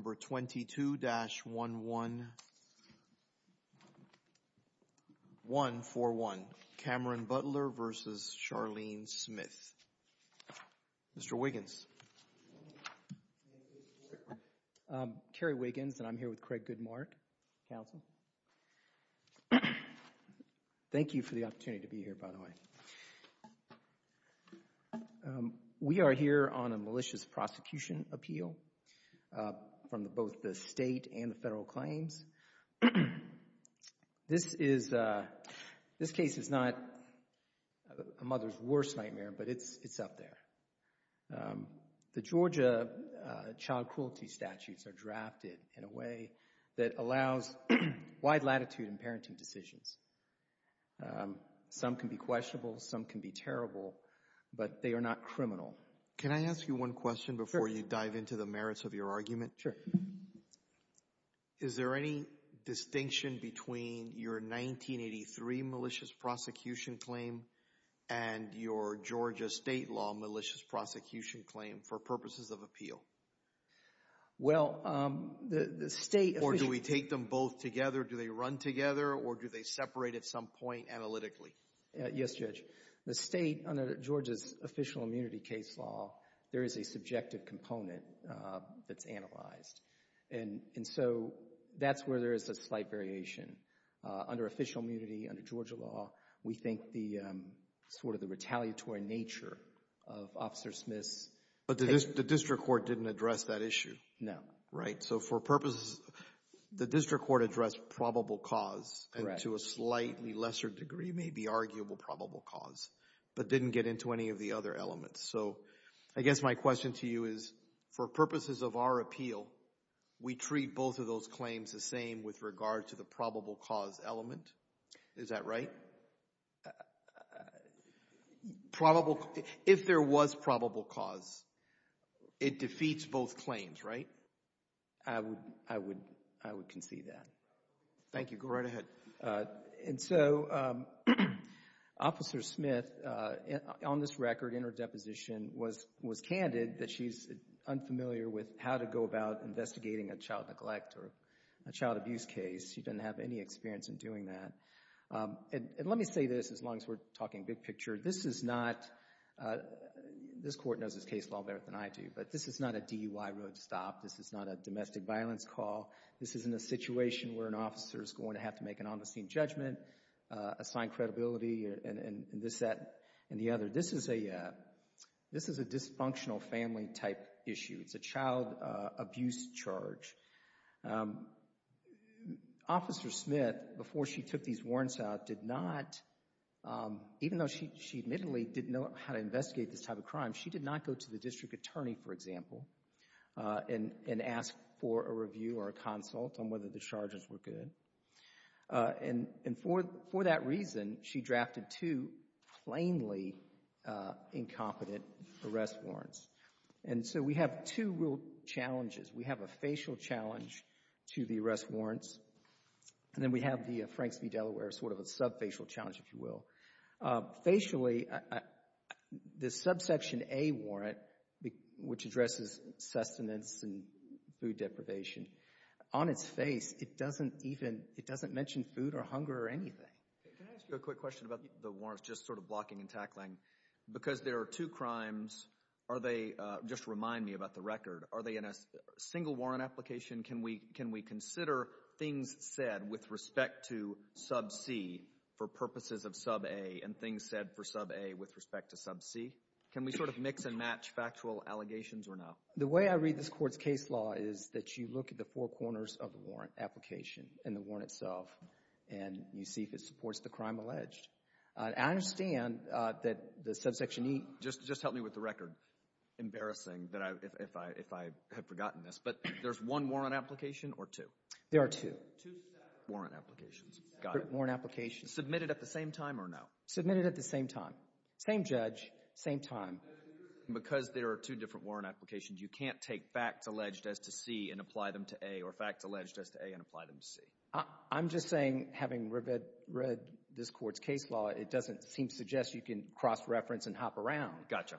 Number 22-11141, Cameron Butler v. Charlene Smith. Mr. Wiggins. Thank you, Mr. Chairman. Kerry Wiggins, and I'm here with Craig Goodmark, counsel. Thank you for the opportunity to be here, by the way. We are here on a malicious prosecution appeal from both the state and the federal claims. This case is not a mother's worst nightmare, but it's up there. The Georgia child cruelty statutes are drafted in a way that allows wide latitude in parenting decisions. Some can be questionable, some can be terrible, but they are not criminal. Can I ask you one question before you dive into the merits of your argument? Sure. Is there any distinction between your 1983 malicious prosecution claim and your Georgia state law malicious prosecution claim for purposes of appeal? Well, the state... Or do we take them both together? Do they run together, or do they separate at some point analytically? Yes, Judge. The state, under Georgia's official immunity case law, there is a subjective component that's analyzed, and so that's where there is a slight variation. Under official immunity, under Georgia law, we think the sort of the retaliatory nature of Officer Smith's... But the district court didn't address that issue? No. Right. Okay. So for purposes... The district court addressed probable cause, and to a slightly lesser degree, maybe arguable probable cause, but didn't get into any of the other elements. So I guess my question to you is, for purposes of our appeal, we treat both of those claims the same with regard to the probable cause element? Is that right? Right. If there was probable cause, it defeats both claims, right? I would concede that. Thank you. Go right ahead. And so Officer Smith, on this record, in her deposition, was candid that she's unfamiliar with how to go about investigating a child neglect or a child abuse case. She doesn't have any experience in doing that. And let me say this, as long as we're talking big picture. This is not... This court knows this case a lot better than I do, but this is not a DUI road stop. This is not a domestic violence call. This isn't a situation where an officer is going to have to make an on-the-scene judgment, assign credibility, and this, that, and the other. This is a dysfunctional family-type issue. It's a child abuse charge. Officer Smith, before she took these warrants out, did not, even though she admittedly didn't know how to investigate this type of crime, she did not go to the district attorney, for example, and ask for a review or a consult on whether the charges were good. And for that reason, she drafted two plainly incompetent arrest warrants. And so we have two real challenges. We have a facial challenge to the arrest warrants, and then we have the Franks v. Delaware, sort of a sub-facial challenge, if you will. Facially, the subsection A warrant, which addresses sustenance and food deprivation, on its face, it doesn't even, it doesn't mention food or hunger or anything. Can I ask you a quick question about the warrants, just sort of blocking and tackling? Because there are two crimes, are they, just remind me about the record, are they in a single warrant application? Can we consider things said with respect to sub-C for purposes of sub-A and things said for sub-A with respect to sub-C? Can we sort of mix and match factual allegations or not? The way I read this Court's case law is that you look at the four corners of the warrant application and the warrant itself, and you see if it supports the crime alleged. I understand that the subsection E. Just help me with the record. Embarrassing that I, if I, if I had forgotten this, but there's one warrant application or two? There are two. Two separate warrant applications. Got it. Two separate warrant applications. Submitted at the same time or no? Submitted at the same time. Same judge, same time. Because there are two different warrant applications, you can't take facts alleged as to C and apply them to A or facts alleged as to A and apply them to C? I'm just saying having read this Court's case law, it doesn't seem to suggest you can cross-reference and hop around. Gotcha.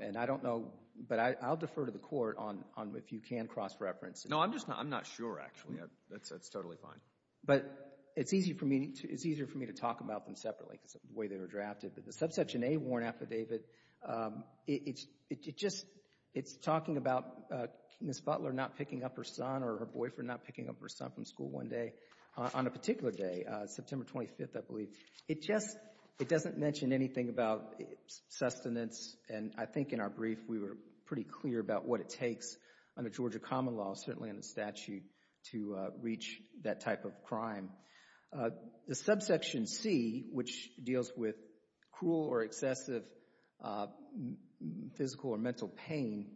And I don't know, but I'll defer to the Court on if you can cross-reference. No, I'm just not, I'm not sure actually. That's totally fine. But it's easy for me, it's easier for me to talk about them separately because of the way they were drafted. But the subsection A warrant affidavit, it's, it just, it's talking about Ms. Butler not picking up her son from school one day, on a particular day, September 25th, I believe. It just, it doesn't mention anything about sustenance and I think in our brief we were pretty clear about what it takes under Georgia common law, certainly in the statute, to reach that type of crime. The subsection C, which deals with cruel or excessive physical or mental pain,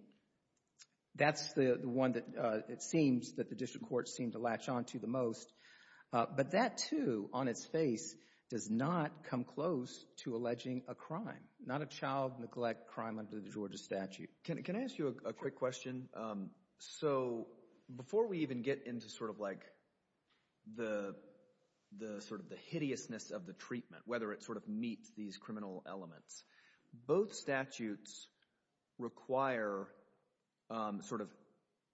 that's the one that it seems that the District Courts seem to latch onto the most. But that too, on its face, does not come close to alleging a crime, not a child neglect crime under the Georgia statute. Can I ask you a quick question? So before we even get into sort of like the, the sort of the hideousness of the treatment, whether it sort of meets these criminal elements, both statutes require sort of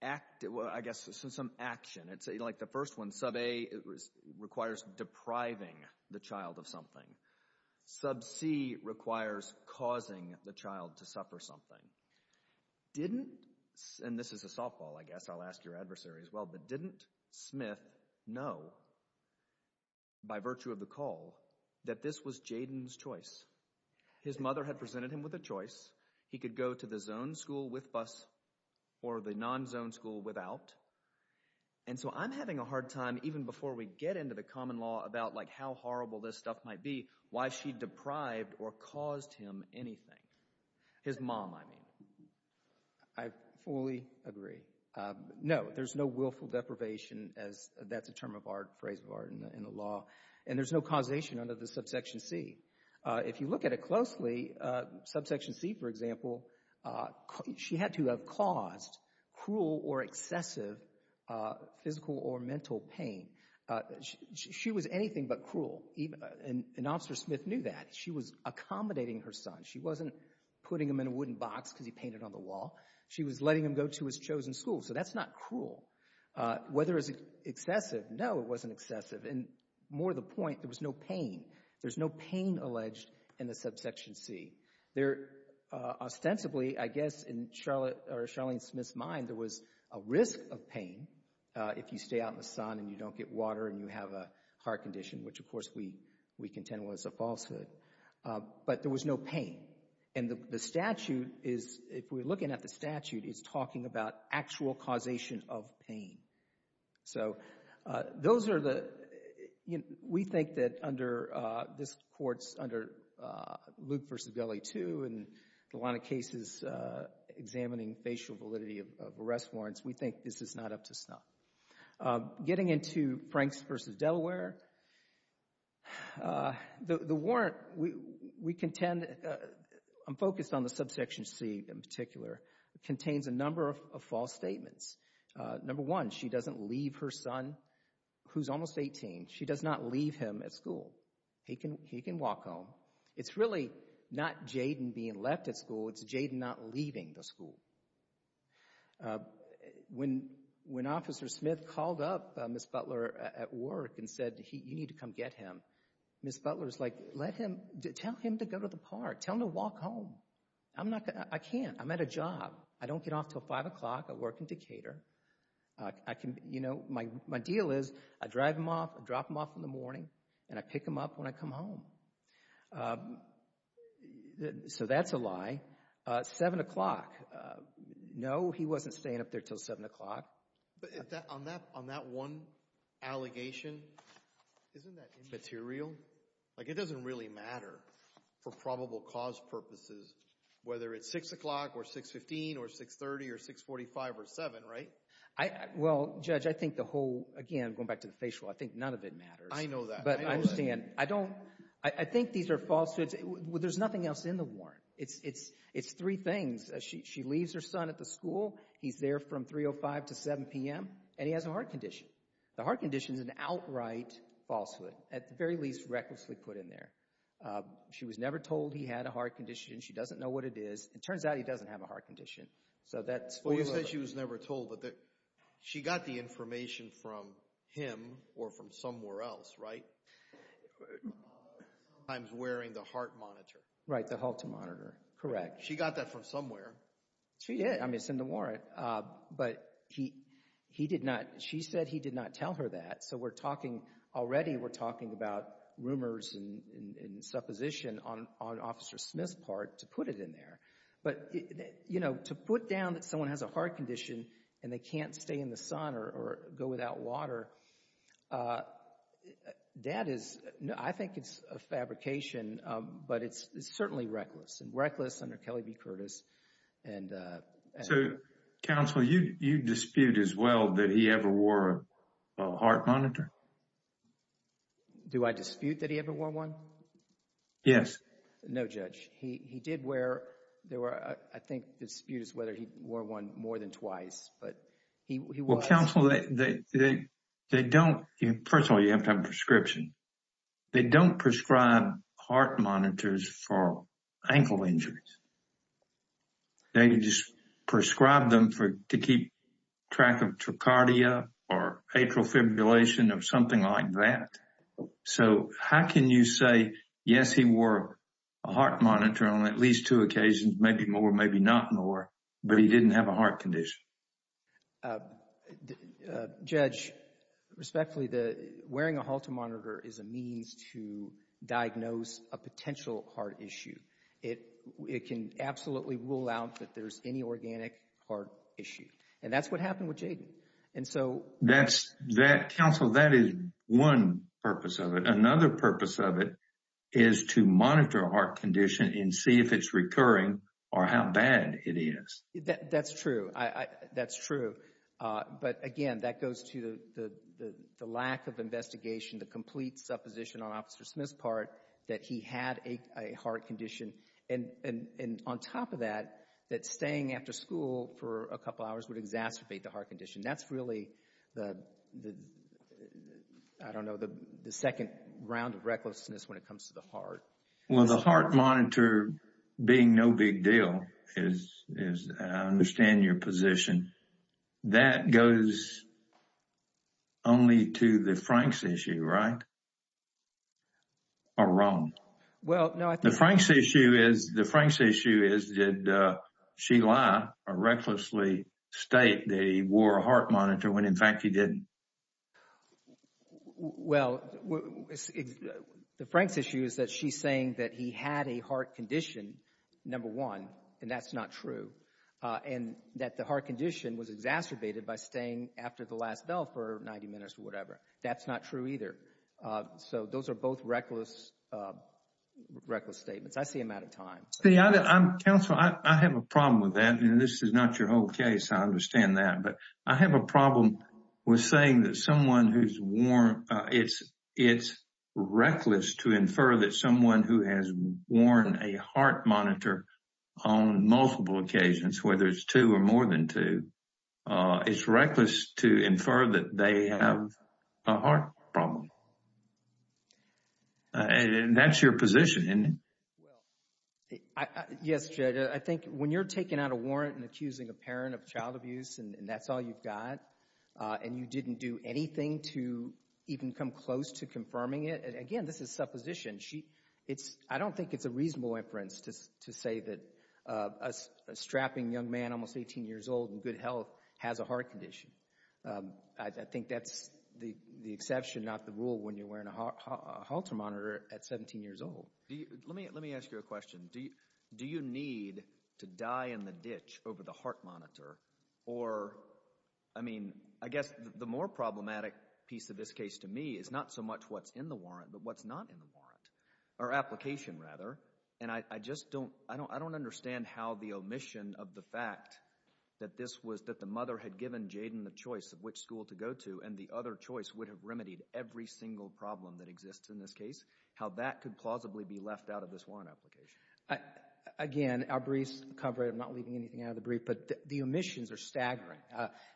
act, I guess, some action. It's like the first one, sub A requires depriving the child of something. Sub C requires causing the child to suffer something. Didn't, and this is a softball, I guess, I'll ask your adversary as well, but didn't Smith know, by virtue of the call, that this was Jayden's choice? His mother had presented him with a choice. He could go to the zoned school with BUS or the non-zoned school without. And so I'm having a hard time, even before we get into the common law, about like how horrible this stuff might be, why she deprived or caused him anything. His mom, I mean. I fully agree. No, there's no willful deprivation as that's a term of art, phrase of art in the law. And there's no causation under the subsection C. If you look at it closely, subsection C, for example, she had to have caused cruel or excessive physical or mental pain. She was anything but cruel. And Officer Smith knew that. She was accommodating her son. She wasn't putting him in a wooden box because he painted on the wall. She was letting him go to his chosen school. So that's not cruel. Whether it was excessive, no, it wasn't excessive. And more the point, there was no pain. There's no pain alleged in the subsection C. There, ostensibly, I guess in Charlotte or Charlene Smith's mind, there was a risk of pain if you stay out in the sun and you don't get water and you have a heart condition, which of course we contend was a falsehood. But there was no pain. And the statute is, if we're looking at the statute, it's talking about actual causation of pain. So those are the, you know, we think that under this court's, under Luke v. Deli too, and a lot of cases examining facial validity of arrest warrants, we think this is not up to snuff. Getting into Franks v. Delaware, the warrant, we contend, I'm focused on the subsection C in particular, contains a number of false statements. Number one, she doesn't leave her son, who's almost 18, she does not leave him at school. He can walk home. It's really not Jayden being left at school, it's Jayden not leaving the school. When, when Officer Smith called up Ms. Butler at work and said, you need to come get him, Ms. Butler's like, let him, tell him to go to the park, tell him to walk home. I'm not going to, I can't, I'm at a job. I don't get off until 5 o'clock, I work in Decatur, I can, you know, my deal is, I drive him off, I drop him off in the morning, and I pick him up when I come home. So that's a lie. 7 o'clock, no, he wasn't staying up there until 7 o'clock. But on that, on that one allegation, isn't that immaterial? Like, it doesn't really matter for probable cause purposes, whether it's 6 o'clock, or 6.15, or 6.30, or 6.45, or 7, right? Well, Judge, I think the whole, again, going back to the facial, I think none of it matters. I know that. But I understand, I don't, I think these are false, there's nothing else in the warrant. It's, it's, it's three things. She leaves her son at the school, he's there from 3.05 to 7 p.m., and he has a heart condition. The heart condition is an outright falsehood, at the very least, recklessly put in there. She was never told he had a heart condition, she doesn't know what it is, it turns out he doesn't have a heart condition. So that's false. Well, you said she was never told, but she got the information from him, or from somewhere else, right? Sometimes wearing the heart monitor. Right, the heart monitor, correct. She got that from somewhere. She did, I mean, it's in the warrant. But he, he did not, she said he did not tell her that, so we're talking, already we're talking about rumors and supposition on, on Officer Smith's part to put it in there. But, you know, to put down that someone has a heart condition, and they can't stay in the sun or go without water, that is, I think it's a fabrication, but it's certainly reckless, and reckless under Kelly v. Curtis. So, counsel, you dispute as well that he ever wore a heart monitor? Do I dispute that he ever wore one? Yes. No, Judge. He did wear, there were, I think, disputes whether he wore one more than twice, but he Well, counsel, they don't, first of all, you have to have a prescription. They don't prescribe heart monitors for ankle injuries. They just prescribe them for, to keep track of trachardia or atrial fibrillation or something like that. So how can you say, yes, he wore a heart monitor on at least two occasions, maybe more, maybe not more, but he didn't have a heart condition? Judge, respectfully, wearing a heart monitor is a means to diagnose a potential heart issue. It can absolutely rule out that there's any organic heart issue, and that's what happened with Jayden. And so, That's, counsel, that is one purpose of it. Another purpose of it is to monitor a heart condition and see if it's recurring or how bad it is. That's true. That's true. But again, that goes to the lack of investigation, the complete supposition on Officer Smith's part that he had a heart condition. And on top of that, that staying after school for a couple hours would exacerbate the heart condition. That's really the, I don't know, the second round of recklessness when it comes to the heart. Well, the heart monitor being no big deal is, I understand your position. That goes only to the Franks issue, right? Or wrong? Well, no, I think... The issue is, the Franks issue is, did she lie or recklessly state that he wore a heart monitor when, in fact, he didn't? Well, the Franks issue is that she's saying that he had a heart condition, number one, and that's not true. And that the heart condition was exacerbated by staying after the last bell for 90 minutes or whatever. That's not true either. So, those are both reckless statements. I see him out of time. See, I'm... Counsel, I have a problem with that, and this is not your whole case, I understand that. But I have a problem with saying that someone who's worn... It's reckless to infer that someone who has worn a heart monitor on multiple occasions, whether it's two or more than two, it's reckless to infer that they have a heart problem. And that's your position, isn't it? Well, yes, Judge. I think when you're taking out a warrant and accusing a parent of child abuse and that's all you've got, and you didn't do anything to even come close to confirming it, and again, this is supposition, I don't think it's a reasonable inference to say that a strapping young man, almost 18 years old, in good health, has a heart condition. I think that's the exception, not the rule, when you're wearing a heart monitor at 17 years old. Let me ask you a question. Do you need to die in the ditch over the heart monitor or, I mean, I guess the more problematic piece of this case to me is not so much what's in the warrant, but what's not in the warrant, or application rather. And I just don't understand how the omission of the fact that this was, that the mother had given Jayden the choice of which school to go to and the other choice would have remedied every single problem that exists in this case, how that could plausibly be left out of this warrant application. Again, our briefs cover it, I'm not leaving anything out of the brief, but the omissions are staggering.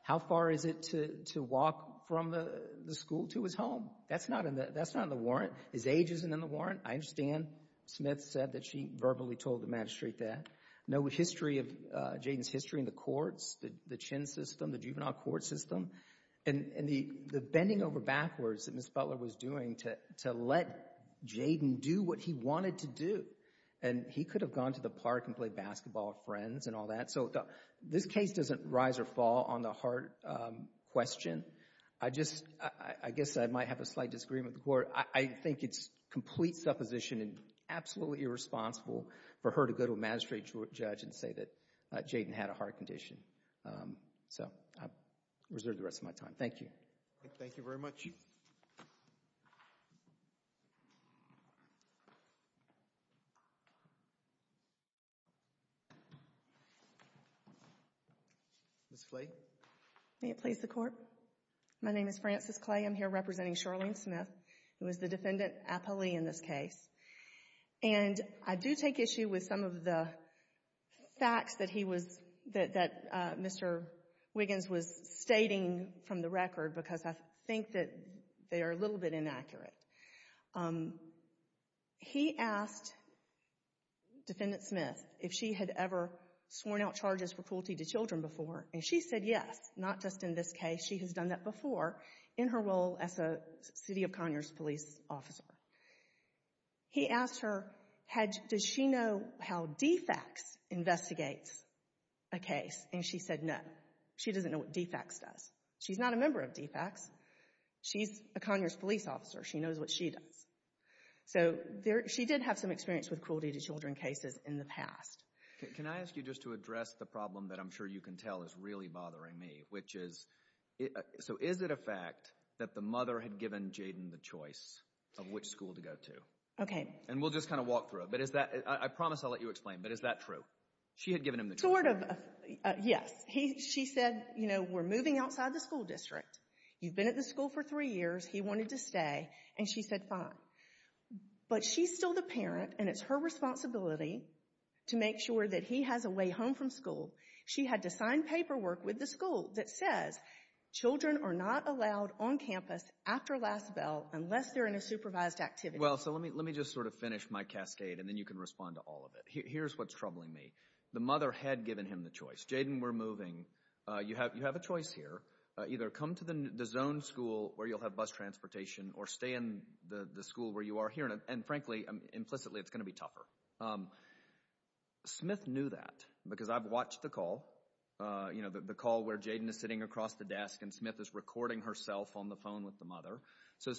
How far is it to walk from the school to his home? That's not in the, that's not in the warrant. His age isn't in the warrant. I understand Smith said that she verbally told the magistrate that. No history of Jayden's history in the courts, the chin system, the juvenile court system, and the bending over backwards that Ms. Butler was doing to let Jayden do what he wanted to do, and he could have gone to the park and played basketball with friends and all that. So this case doesn't rise or fall on the heart question. I just, I guess I might have a slight disagreement with the court. I think it's complete supposition and absolutely irresponsible for her to go to a magistrate or a judge and say that Jayden had a heart condition. So I reserve the rest of my time. Thank you. Thank you very much. Ms. Clay. May it please the court. My name is Frances Clay. I'm here representing Charlene Smith, who is the defendant appellee in this case. And I do take issue with some of the facts that he was, that Mr. Wiggins was stating from the record because I think that they are a little bit inaccurate. He asked Defendant Smith if she had ever sworn out charges for cruelty to children before, and she said yes, not just in this case. She said she has done that before in her role as a city of Conyers police officer. He asked her, does she know how DFAX investigates a case, and she said no. She doesn't know what DFAX does. She's not a member of DFAX. She's a Conyers police officer. She knows what she does. So she did have some experience with cruelty to children cases in the past. Can I ask you just to address the problem that I'm sure you can tell is really bothering me, which is, so is it a fact that the mother had given Jayden the choice of which school to go to? Okay. And we'll just kind of walk through it. But is that, I promise I'll let you explain, but is that true? She had given him the choice. Sort of. Yes. He, she said, you know, we're moving outside the school district. You've been at the school for three years. He wanted to stay, and she said fine. But she's still the parent, and it's her responsibility to make sure that he has a way home from school. She had to sign paperwork with the school that says children are not allowed on campus after last bell unless they're in a supervised activity. Well, so let me, let me just sort of finish my cascade, and then you can respond to all of it. Here's what's troubling me. The mother had given him the choice. Jayden, we're moving. You have, you have a choice here. Either come to the zone school where you'll have bus transportation or stay in the school where you are here. And frankly, implicitly, it's going to be tougher. Smith knew that because I've watched the call, you know, the call where Jayden is sitting across the desk, and Smith is recording herself on the phone with the mother,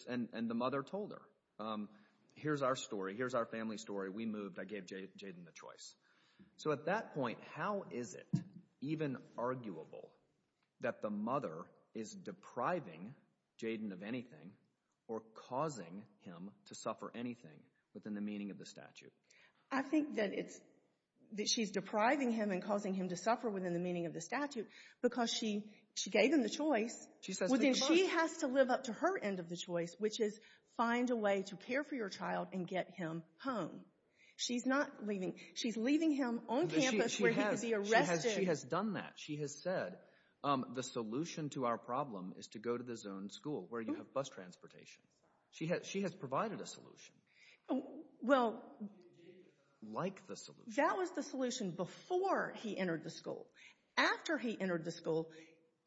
and the mother told her, here's our story. Here's our family story. We moved. I gave Jayden the choice. So at that point, how is it even arguable that the mother is depriving Jayden of anything or causing him to suffer anything within the meaning of the statute? I think that it's, that she's depriving him and causing him to suffer within the meaning of the statute because she, she gave him the choice. She says leave the bus. Well, then she has to live up to her end of the choice, which is find a way to care for your child and get him home. She's not leaving. She's leaving him on campus where he could be arrested. She has done that. She has said, the solution to our problem is to go to the zone school where you have bus transportation. She has, she has provided a solution, like the solution. That was the solution before he entered the school. After he entered the school,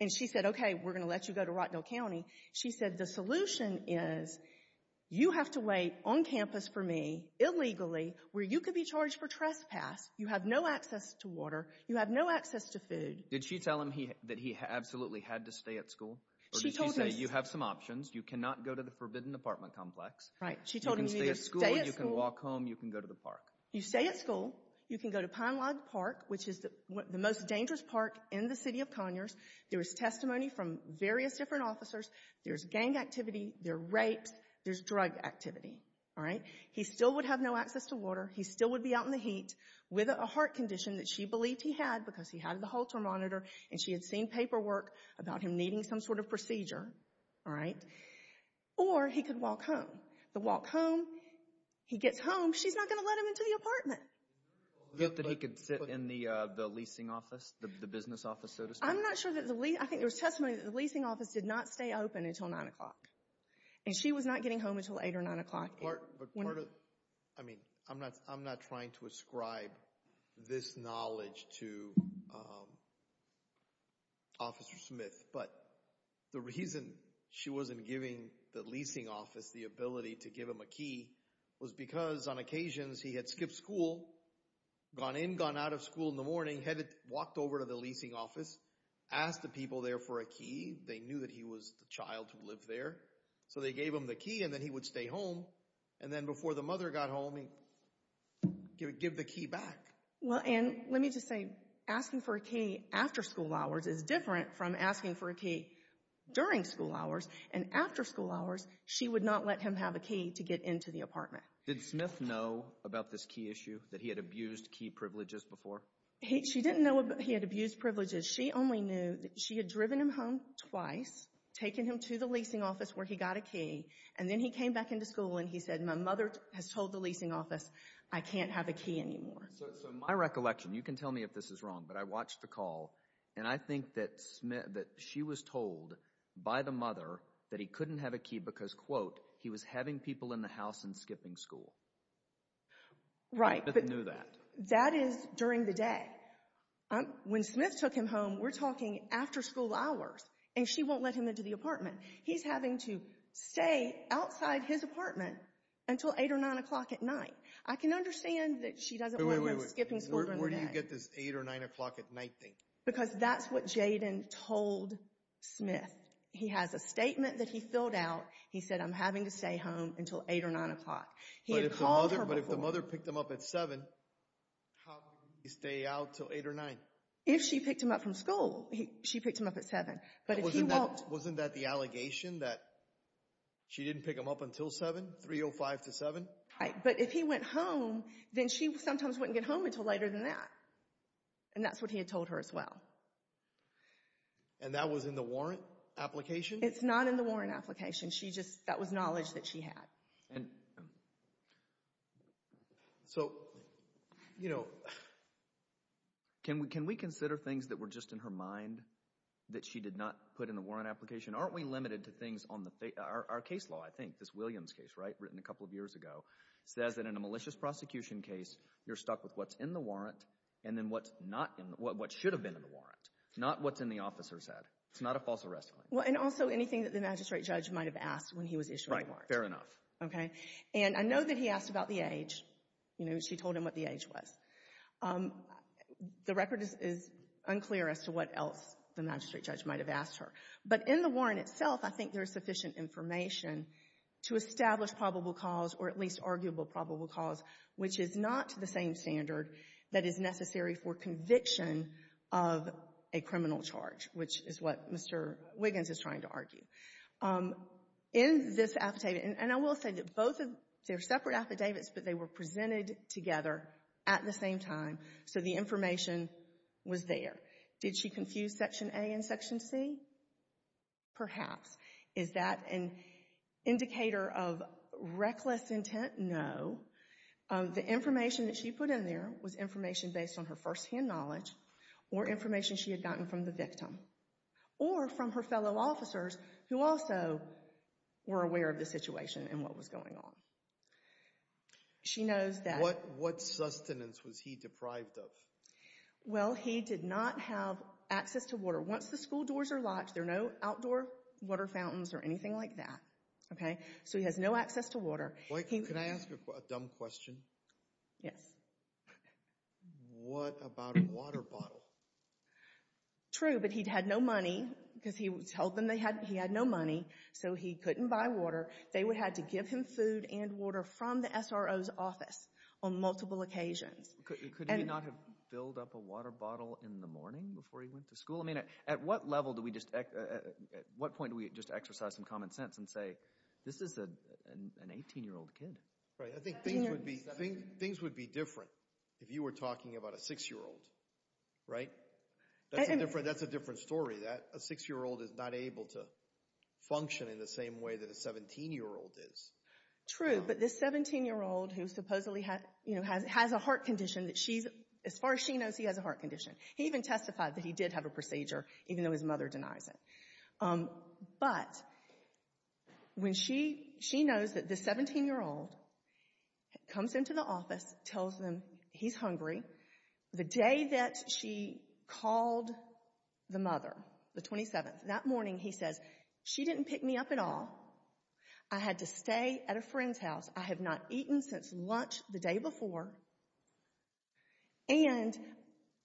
and she said, okay, we're going to let you go to Rottnell County. She said, the solution is you have to wait on campus for me, illegally, where you could be charged for trespass. You have no access to water. You have no access to food. Did she tell him that he absolutely had to stay at school, or did she say, you have some options. You cannot go to the forbidden apartment complex. Right. She told him, you can stay at school. You can walk home. You can go to the park. You stay at school. You can go to Pine Lodge Park, which is the most dangerous park in the city of Conyers. There is testimony from various different officers. There's gang activity. There are rapes. There's drug activity. All right. He still would have no access to water. He still would be out in the heat with a heart condition that she believed he had because he had the Holter monitor, and she had seen paperwork about him needing some sort of procedure. All right. Or he could walk home. The walk home, he gets home, she's not going to let him into the apartment. That he could sit in the leasing office, the business office, so to speak. I'm not sure that the lease, I think there was testimony that the leasing office did not stay open until 9 o'clock, and she was not getting home until 8 or 9 o'clock. I mean, I'm not trying to ascribe this knowledge to Officer Smith. But the reason she wasn't giving the leasing office the ability to give him a key was because on occasions he had skipped school, gone in, gone out of school in the morning, walked over to the leasing office, asked the people there for a key. They knew that he was the child who lived there. So they gave him the key, and then he would stay home. And then before the mother got home, he would give the key back. Well, and let me just say, asking for a key after school hours is different from asking for a key during school hours. And after school hours, she would not let him have a key to get into the apartment. Did Smith know about this key issue, that he had abused key privileges before? She didn't know he had abused privileges. She only knew that she had driven him home twice, taken him to the leasing office where he got a key, and then he came back into school and he said, my mother has told the leasing office I can't have a key anymore. So my recollection, you can tell me if this is wrong, but I watched the call, and I think that she was told by the mother that he couldn't have a key because, quote, he was having people in the house and skipping school. Right. But Smith knew that. That is during the day. When Smith took him home, we're talking after school hours, and she won't let him into the apartment. He's having to stay outside his apartment until 8 or 9 o'clock at night. I can understand that she doesn't want him skipping school during the day. Wait, wait, wait. Where do you get this 8 or 9 o'clock at night thing? Because that's what Jayden told Smith. He has a statement that he filled out. He said, I'm having to stay home until 8 or 9 o'clock. He had called her before. But if the mother picked him up at 7, how would he stay out until 8 or 9? If she picked him up from school, she picked him up at 7. But if he walked... Wasn't that the allegation that she didn't pick him up until 7, 3 or 5 to 7? But if he went home, then she sometimes wouldn't get home until later than that. And that's what he had told her as well. And that was in the warrant application? It's not in the warrant application. That was knowledge that she had. So, you know, can we consider things that were just in her mind that she did not put in the warrant application? Aren't we limited to things on our case law, I think? This Williams case, right, written a couple of years ago, says that in a malicious prosecution case you're stuck with what's in the warrant and then what's not in... What should have been in the warrant, not what's in the officer's head. It's not a false arrest. Well, and also anything that the magistrate judge might have asked when he was issuing the warrant. Right. Fair enough. Okay. And I know that he asked about the age. You know, she told him what the age was. The record is unclear as to what else the magistrate judge might have asked her. But in the warrant itself, I think there is sufficient information to establish probable cause or at least arguable probable cause, which is not the same standard that is necessary for conviction of a criminal charge, which is what Mr. Wiggins is trying to argue. In this affidavit, and I will say that both of their separate affidavits, but they were presented together at the same time, so the information was there. Did she confuse Section A and Section C? Perhaps. Is that an indicator of reckless intent? No. The information that she put in there was information based on her firsthand knowledge or information she had gotten from the victim or from her fellow officers who also were aware of the situation and what was going on. She knows that... What sustenance was he deprived of? Well, he did not have access to water. Once the school doors are locked, there are no outdoor water fountains or anything like that, okay? So he has no access to water. Can I ask a dumb question? Yes. What about a water bottle? True, but he'd had no money because he told them he had no money, so he couldn't buy water. They would have to give him food and water from the SRO's office on multiple occasions. Could he not have filled up a water bottle in the morning before he went to school? At what point do we just exercise some common sense and say, this is an 18-year-old kid? Right. I think things would be different if you were talking about a 6-year-old, right? That's a different story. A 6-year-old is not able to function in the same way that a 17-year-old is. True. But this 17-year-old who supposedly has a heart condition, as far as she knows, he has a heart condition. He even testified that he did have a procedure, even though his mother denies it. But when she knows that this 17-year-old comes into the office, tells them he's hungry, the day that she called the mother, the 27th, that morning, he says, she didn't pick me up at all. I had to stay at a friend's house. I have not eaten since lunch the day before. And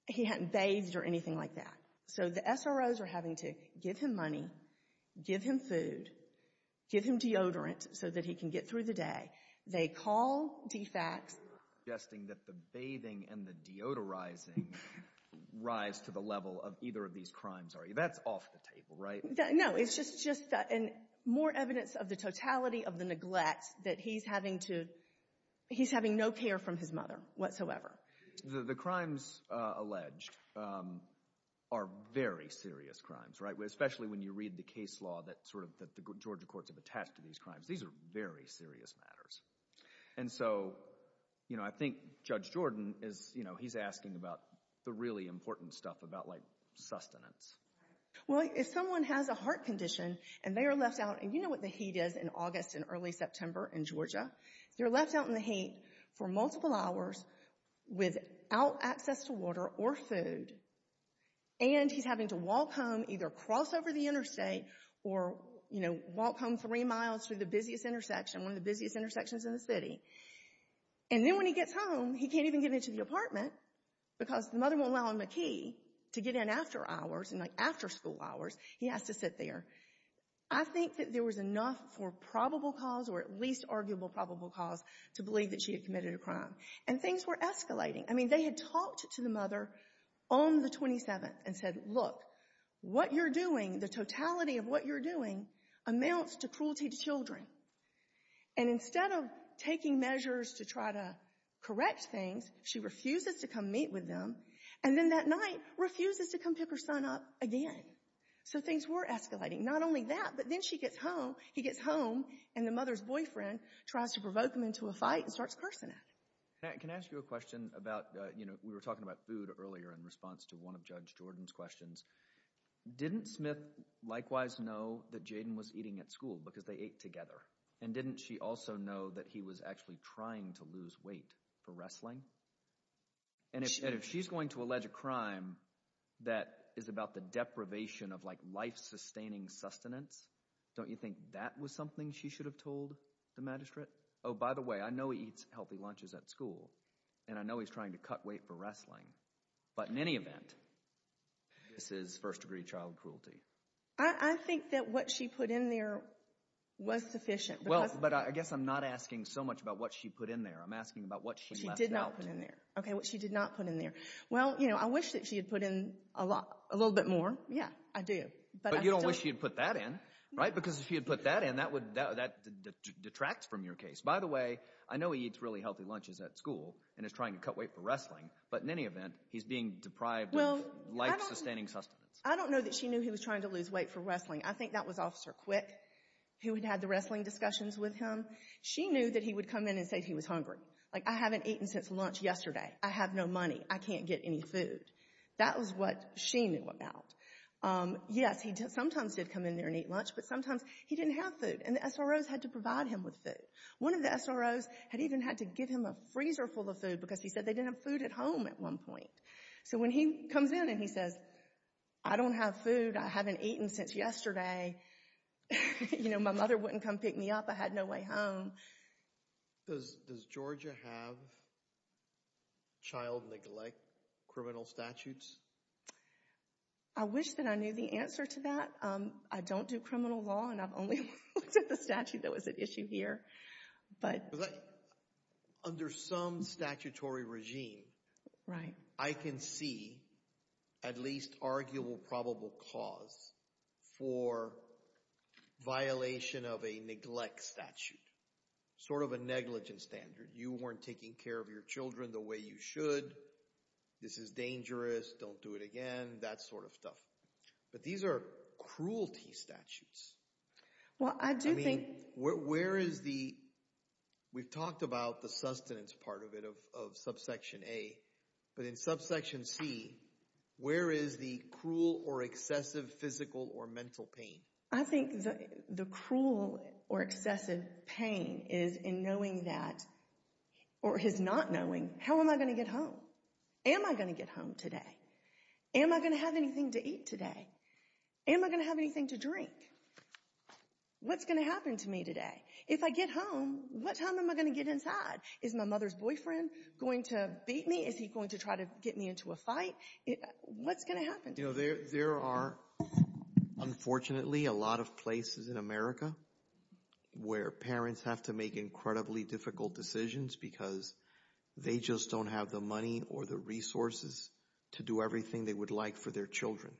he hadn't bathed or anything like that. So the SRO's are having to give him money, give him food, give him deodorant so that he can get through the day. They call DFAX. You're suggesting that the bathing and the deodorizing rise to the level of either of these crimes, are you? That's off the table, right? No. No, it's just more evidence of the totality of the neglect that he's having to, he's having no care from his mother whatsoever. The crimes alleged are very serious crimes, right? Especially when you read the case law that Georgia courts have attached to these crimes. These are very serious matters. And so, you know, I think Judge Jordan is, you know, he's asking about the really important stuff about, like, sustenance. Well, if someone has a heart condition and they are left out, and you know what the heat is in August and early September in Georgia, they're left out in the heat for multiple hours without access to water or food. And he's having to walk home, either cross over the interstate or, you know, walk home three miles through the busiest intersection, one of the busiest intersections in the city. And then when he gets home, he can't even get into the apartment because the mother won't allow him a key to get in after hours and, like, after school hours. He has to sit there. I think that there was enough for probable cause or at least arguable probable cause to believe that she had committed a crime. And things were escalating. I mean, they had talked to the mother on the 27th and said, look, what you're doing, the totality of what you're doing amounts to cruelty to children. And instead of taking measures to try to correct things, she refuses to come meet with them. And then that night, refuses to come pick her son up again. So things were escalating. Not only that, but then she gets home, he gets home, and the mother's boyfriend tries to provoke him into a fight and starts cursing at him. Can I ask you a question about, you know, we were talking about food earlier in response to one of Judge Jordan's questions. Didn't Smith likewise know that Jaden was eating at school because they ate together? And didn't she also know that he was actually trying to lose weight for wrestling? And if she's going to allege a crime that is about the deprivation of, like, life-sustaining sustenance, don't you think that was something she should have told the magistrate? Oh, by the way, I know he eats healthy lunches at school, and I know he's trying to cut weight for wrestling. But in any event, this is first-degree child cruelty. I think that what she put in there was sufficient. Well, but I guess I'm not asking so much about what she put in there, I'm asking about what she left out. She did not put in there. Okay, what she did not put in there. Well, you know, I wish that she had put in a little bit more. Yeah, I do. But you don't wish she had put that in, right? Because if she had put that in, that detracts from your case. By the way, I know he eats really healthy lunches at school, and is trying to cut weight for wrestling. But in any event, he's being deprived of life-sustaining sustenance. I don't know that she knew he was trying to lose weight for wrestling. I think that was Officer Quick, who had had the wrestling discussions with him. She knew that he would come in and say he was hungry. Like, I haven't eaten since lunch yesterday. I have no money. I can't get any food. That was what she knew about. Yes, he sometimes did come in there and eat lunch, but sometimes he didn't have food, and the SROs had to provide him with food. One of the SROs had even had to give him a freezer full of food, because he said they didn't have food at home at one point. So when he comes in and he says, I don't have food. I haven't eaten since yesterday. You know, my mother wouldn't come pick me up. I had no way home. Does Georgia have child neglect criminal statutes? I wish that I knew the answer to that. I don't do criminal law, and I've only looked at the statute that was at issue here. Under some statutory regime, I can see at least arguable probable cause for violation of a neglect statute. Sort of a negligence standard. You weren't taking care of your children the way you should. This is dangerous. Don't do it again. That sort of stuff. But these are cruelty statutes. Well, I do think... Where is the... We've talked about the sustenance part of it, of subsection A, but in subsection C, where is the cruel or excessive physical or mental pain? I think the cruel or excessive pain is in knowing that, or his not knowing, how am I going to get home? Am I going to get home today? Am I going to have anything to eat today? Am I going to have anything to drink? What's going to happen to me today? If I get home, what time am I going to get inside? Is my mother's boyfriend going to beat me? Is he going to try to get me into a fight? What's going to happen to me? You know, there are, unfortunately, a lot of places in America where parents have to make incredibly difficult decisions because they just don't have the money or the resources to do everything they would like for their children.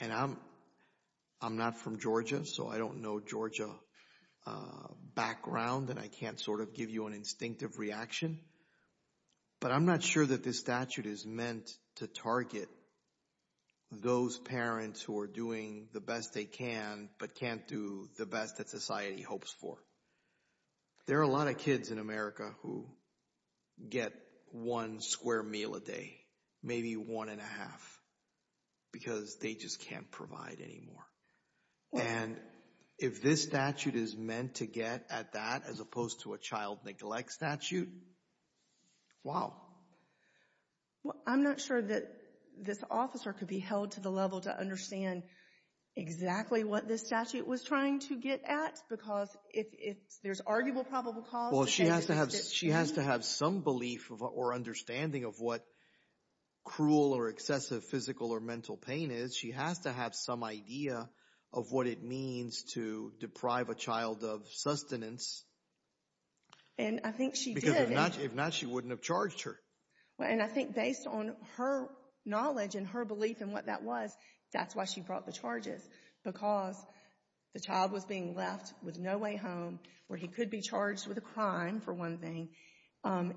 And I'm not from Georgia, so I don't know Georgia background, and I can't sort of give you an instinctive reaction, but I'm not sure that this statute is meant to target those parents who are doing the best they can, but can't do the best that society hopes for. There are a lot of kids in America who get one square meal a day, maybe one and a half, because they just can't provide any more. And if this statute is meant to get at that as opposed to a child neglect statute, wow. I'm not sure that this officer could be held to the level to understand exactly what this is. There's arguable probable cause. Well, she has to have some belief or understanding of what cruel or excessive physical or mental pain is. She has to have some idea of what it means to deprive a child of sustenance. And I think she did. Because if not, she wouldn't have charged her. And I think based on her knowledge and her belief in what that was, that's why she brought the charges, because the child was being left with no way home, where he could be charged with a crime, for one thing.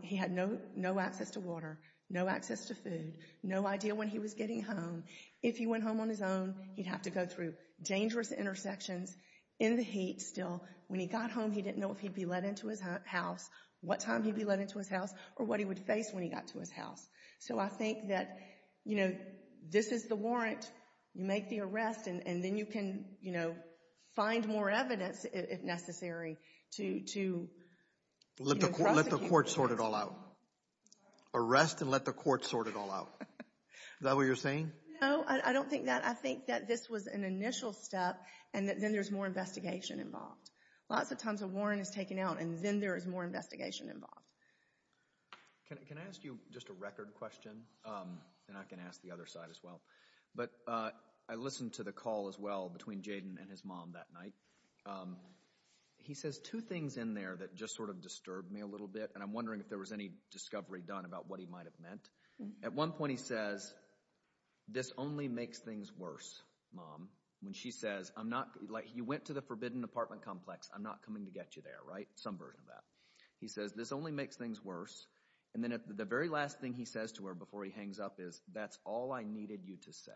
He had no access to water, no access to food, no idea when he was getting home. If he went home on his own, he'd have to go through dangerous intersections in the heat still. When he got home, he didn't know if he'd be let into his house, what time he'd be let into his house, or what he would face when he got to his house. So I think that, you know, this is the warrant. You make the arrest, and then you can, you know, find more evidence, if necessary, to prosecute. Let the court sort it all out. Arrest and let the court sort it all out. Is that what you're saying? No, I don't think that. I think that this was an initial step, and then there's more investigation involved. Lots of times a warrant is taken out, and then there is more investigation involved. Can I ask you just a record question, and I can ask the other side as well? But I listened to the call as well between Jayden and his mom that night. He says two things in there that just sort of disturbed me a little bit, and I'm wondering if there was any discovery done about what he might have meant. At one point he says, this only makes things worse, Mom. When she says, I'm not, like, you went to the forbidden apartment complex, I'm not coming to get you there, right? Some version of that. He says, this only makes things worse, and then the very last thing he says to her before he hangs up is, that's all I needed you to say.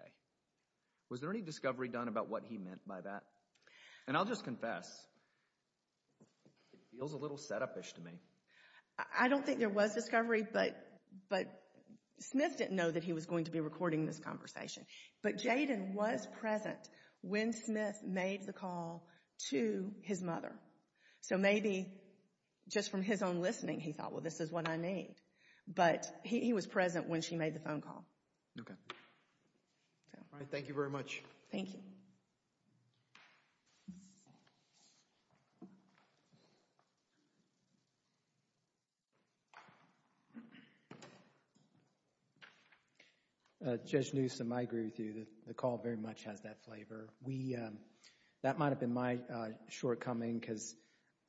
Was there any discovery done about what he meant by that? And I'll just confess, it feels a little set-up-ish to me. I don't think there was discovery, but Smith didn't know that he was going to be recording this conversation. But Jayden was present when Smith made the call to his mother. So maybe just from his own listening, he thought, well, this is what I need. But he was present when she made the phone call. Okay. All right. Thank you very much. Thank you. Judge Newsom, I agree with you. The call very much has that flavor. We, that might have been my shortcoming because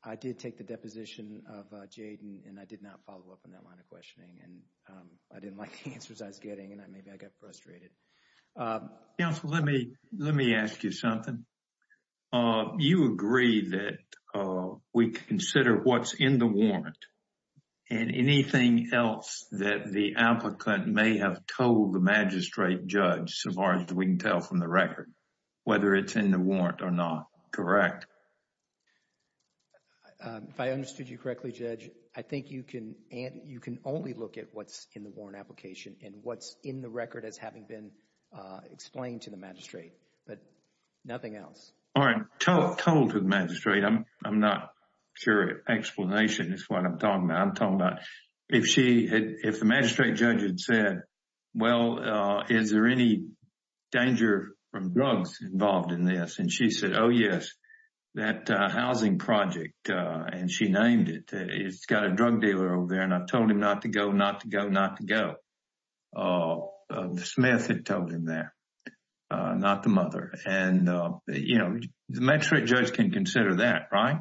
I did take the deposition of Jayden, and I did not follow up on that line of questioning, and I didn't like the answers I was getting, and maybe I got frustrated. Counsel, let me, let me ask you something. You agree that we consider what's in the warrant and anything else that the applicant may have told the magistrate judge, so far as we can tell from the record, whether it's in the warrant or not, correct? If I understood you correctly, Judge, I think you can only look at what's in the warrant application and what's in the record as having been explained to the magistrate, but nothing else. All right. Told to the magistrate. I'm not sure explanation is what I'm talking about. If she had, if the magistrate judge had said, well, is there any danger from drugs involved in this? And she said, oh, yes, that housing project, and she named it, it's got a drug dealer over there, and I've told him not to go, not to go, not to go. The Smith had told him that, not the mother. And, you know, the magistrate judge can consider that, right?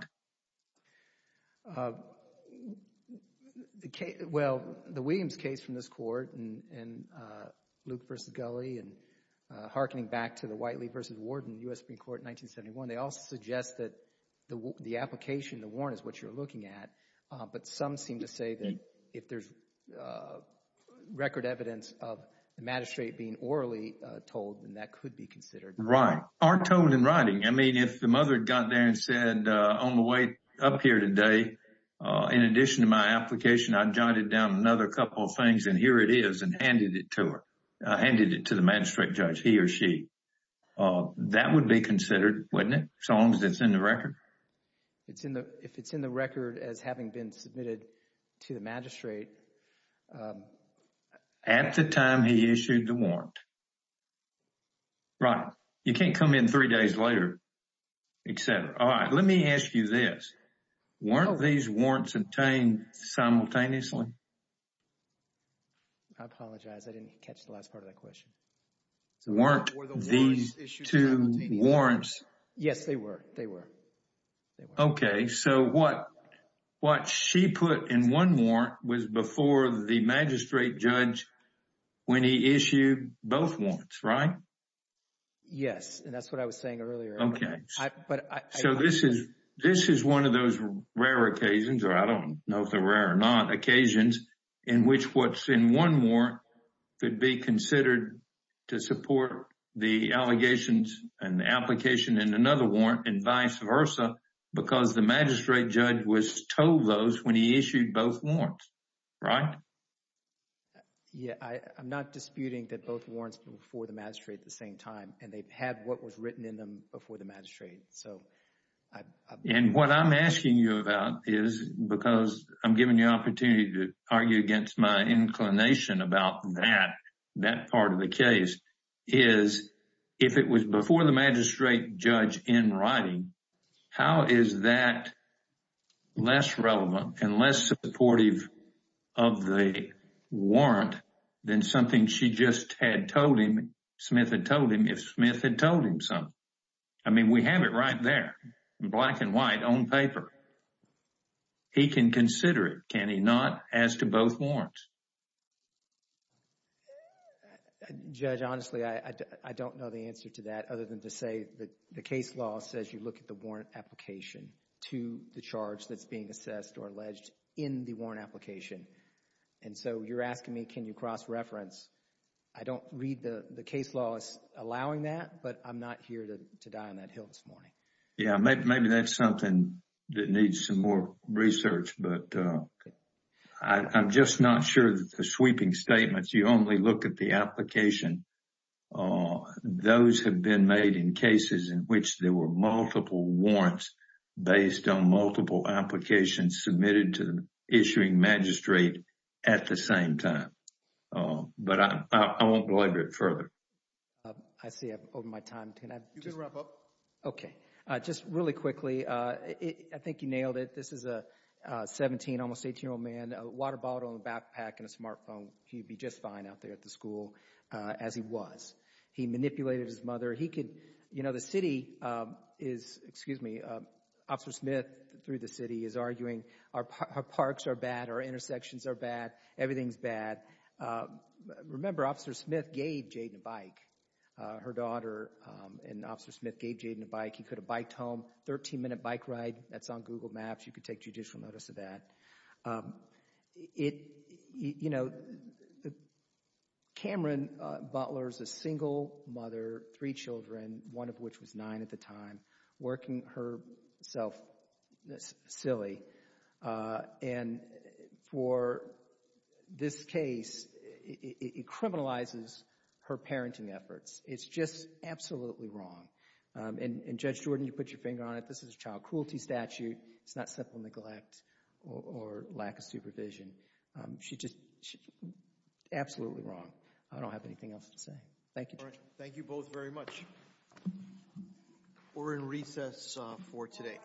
Well, the Williams case from this court, and Luke v. Gulley, and hearkening back to the Whiteley v. Warden, U.S. Supreme Court in 1971, they all suggest that the application, the warrant is what you're looking at, but some seem to say that if there's record evidence of the magistrate being orally told, then that could be considered. Right. Our tone in writing, I mean, if the mother had gotten there and said, on the way up here today, in addition to my application, I jotted down another couple of things, and here it is, and handed it to her, handed it to the magistrate judge, he or she. That would be considered, wouldn't it, as long as it's in the record? It's in the, if it's in the record as having been submitted to the magistrate. At the time he issued the warrant, right. You can't come in three days later, et cetera. All right. Let me ask you this. Weren't these warrants obtained simultaneously? I apologize. I didn't catch the last part of that question. Weren't these two warrants? Yes, they were. They were. They were. Okay. So, what she put in one warrant was before the magistrate judge when he issued both warrants, right? Yes. And that's what I was saying earlier. Okay. So, this is one of those rare occasions, or I don't know if they're rare or not, occasions in which what's in one warrant could be considered to support the allegations and the application in another warrant, and vice versa, because the magistrate judge was told those when he issued both warrants, right? Yes. I'm not disputing that both warrants were before the magistrate at the same time, and they had what was written in them before the magistrate, so I... And what I'm asking you about is, because I'm giving you an opportunity to argue against my inclination about that, that part of the case, is if it was before the magistrate judge in writing, how is that less relevant and less supportive of the warrant than something she just had told him, Smith had told him, if Smith had told him something? I mean, we have it right there, black and white, on paper. He can consider it, can he not, as to both warrants? Judge, honestly, I don't know the answer to that other than to say that the case law says you look at the warrant application to the charge that's being assessed or alleged in the warrant application. And so, you're asking me, can you cross-reference? I don't read the case law as allowing that, but I'm not here to die on that hill this morning. Yeah, maybe that's something that needs some more research, but I'm just not sure that the sweeping statements, you only look at the application. Those have been made in cases in which there were multiple warrants based on multiple applications submitted to the issuing magistrate at the same time. But I won't go into it further. I see I've over my time, can I just... You can wrap up. Okay. Just really quickly, I think you nailed it. This is a 17, almost 18-year-old man, a water bottle in a backpack and a smartphone, he'd be just fine out there at the school as he was. He manipulated his mother, he could, you know, the city is, excuse me, Officer Smith through the city is arguing our parks are bad, our intersections are bad, everything's bad. Remember, Officer Smith gave Jayden a bike. Her daughter and Officer Smith gave Jayden a bike, he could have biked home, 13-minute bike ride, that's on Google Maps, you could take judicial notice of that. You know, Cameron Butler's a single mother, three children, one of which was nine at the time, working herself silly, and for this case, it criminalizes her parenting efforts. It's just absolutely wrong, and Judge Jordan, you put your finger on it, this is a child cruelty statute, it's not simple neglect or lack of supervision. She just, absolutely wrong. I don't have anything else to say. Thank you. Thank you both very much. We're in recess for today.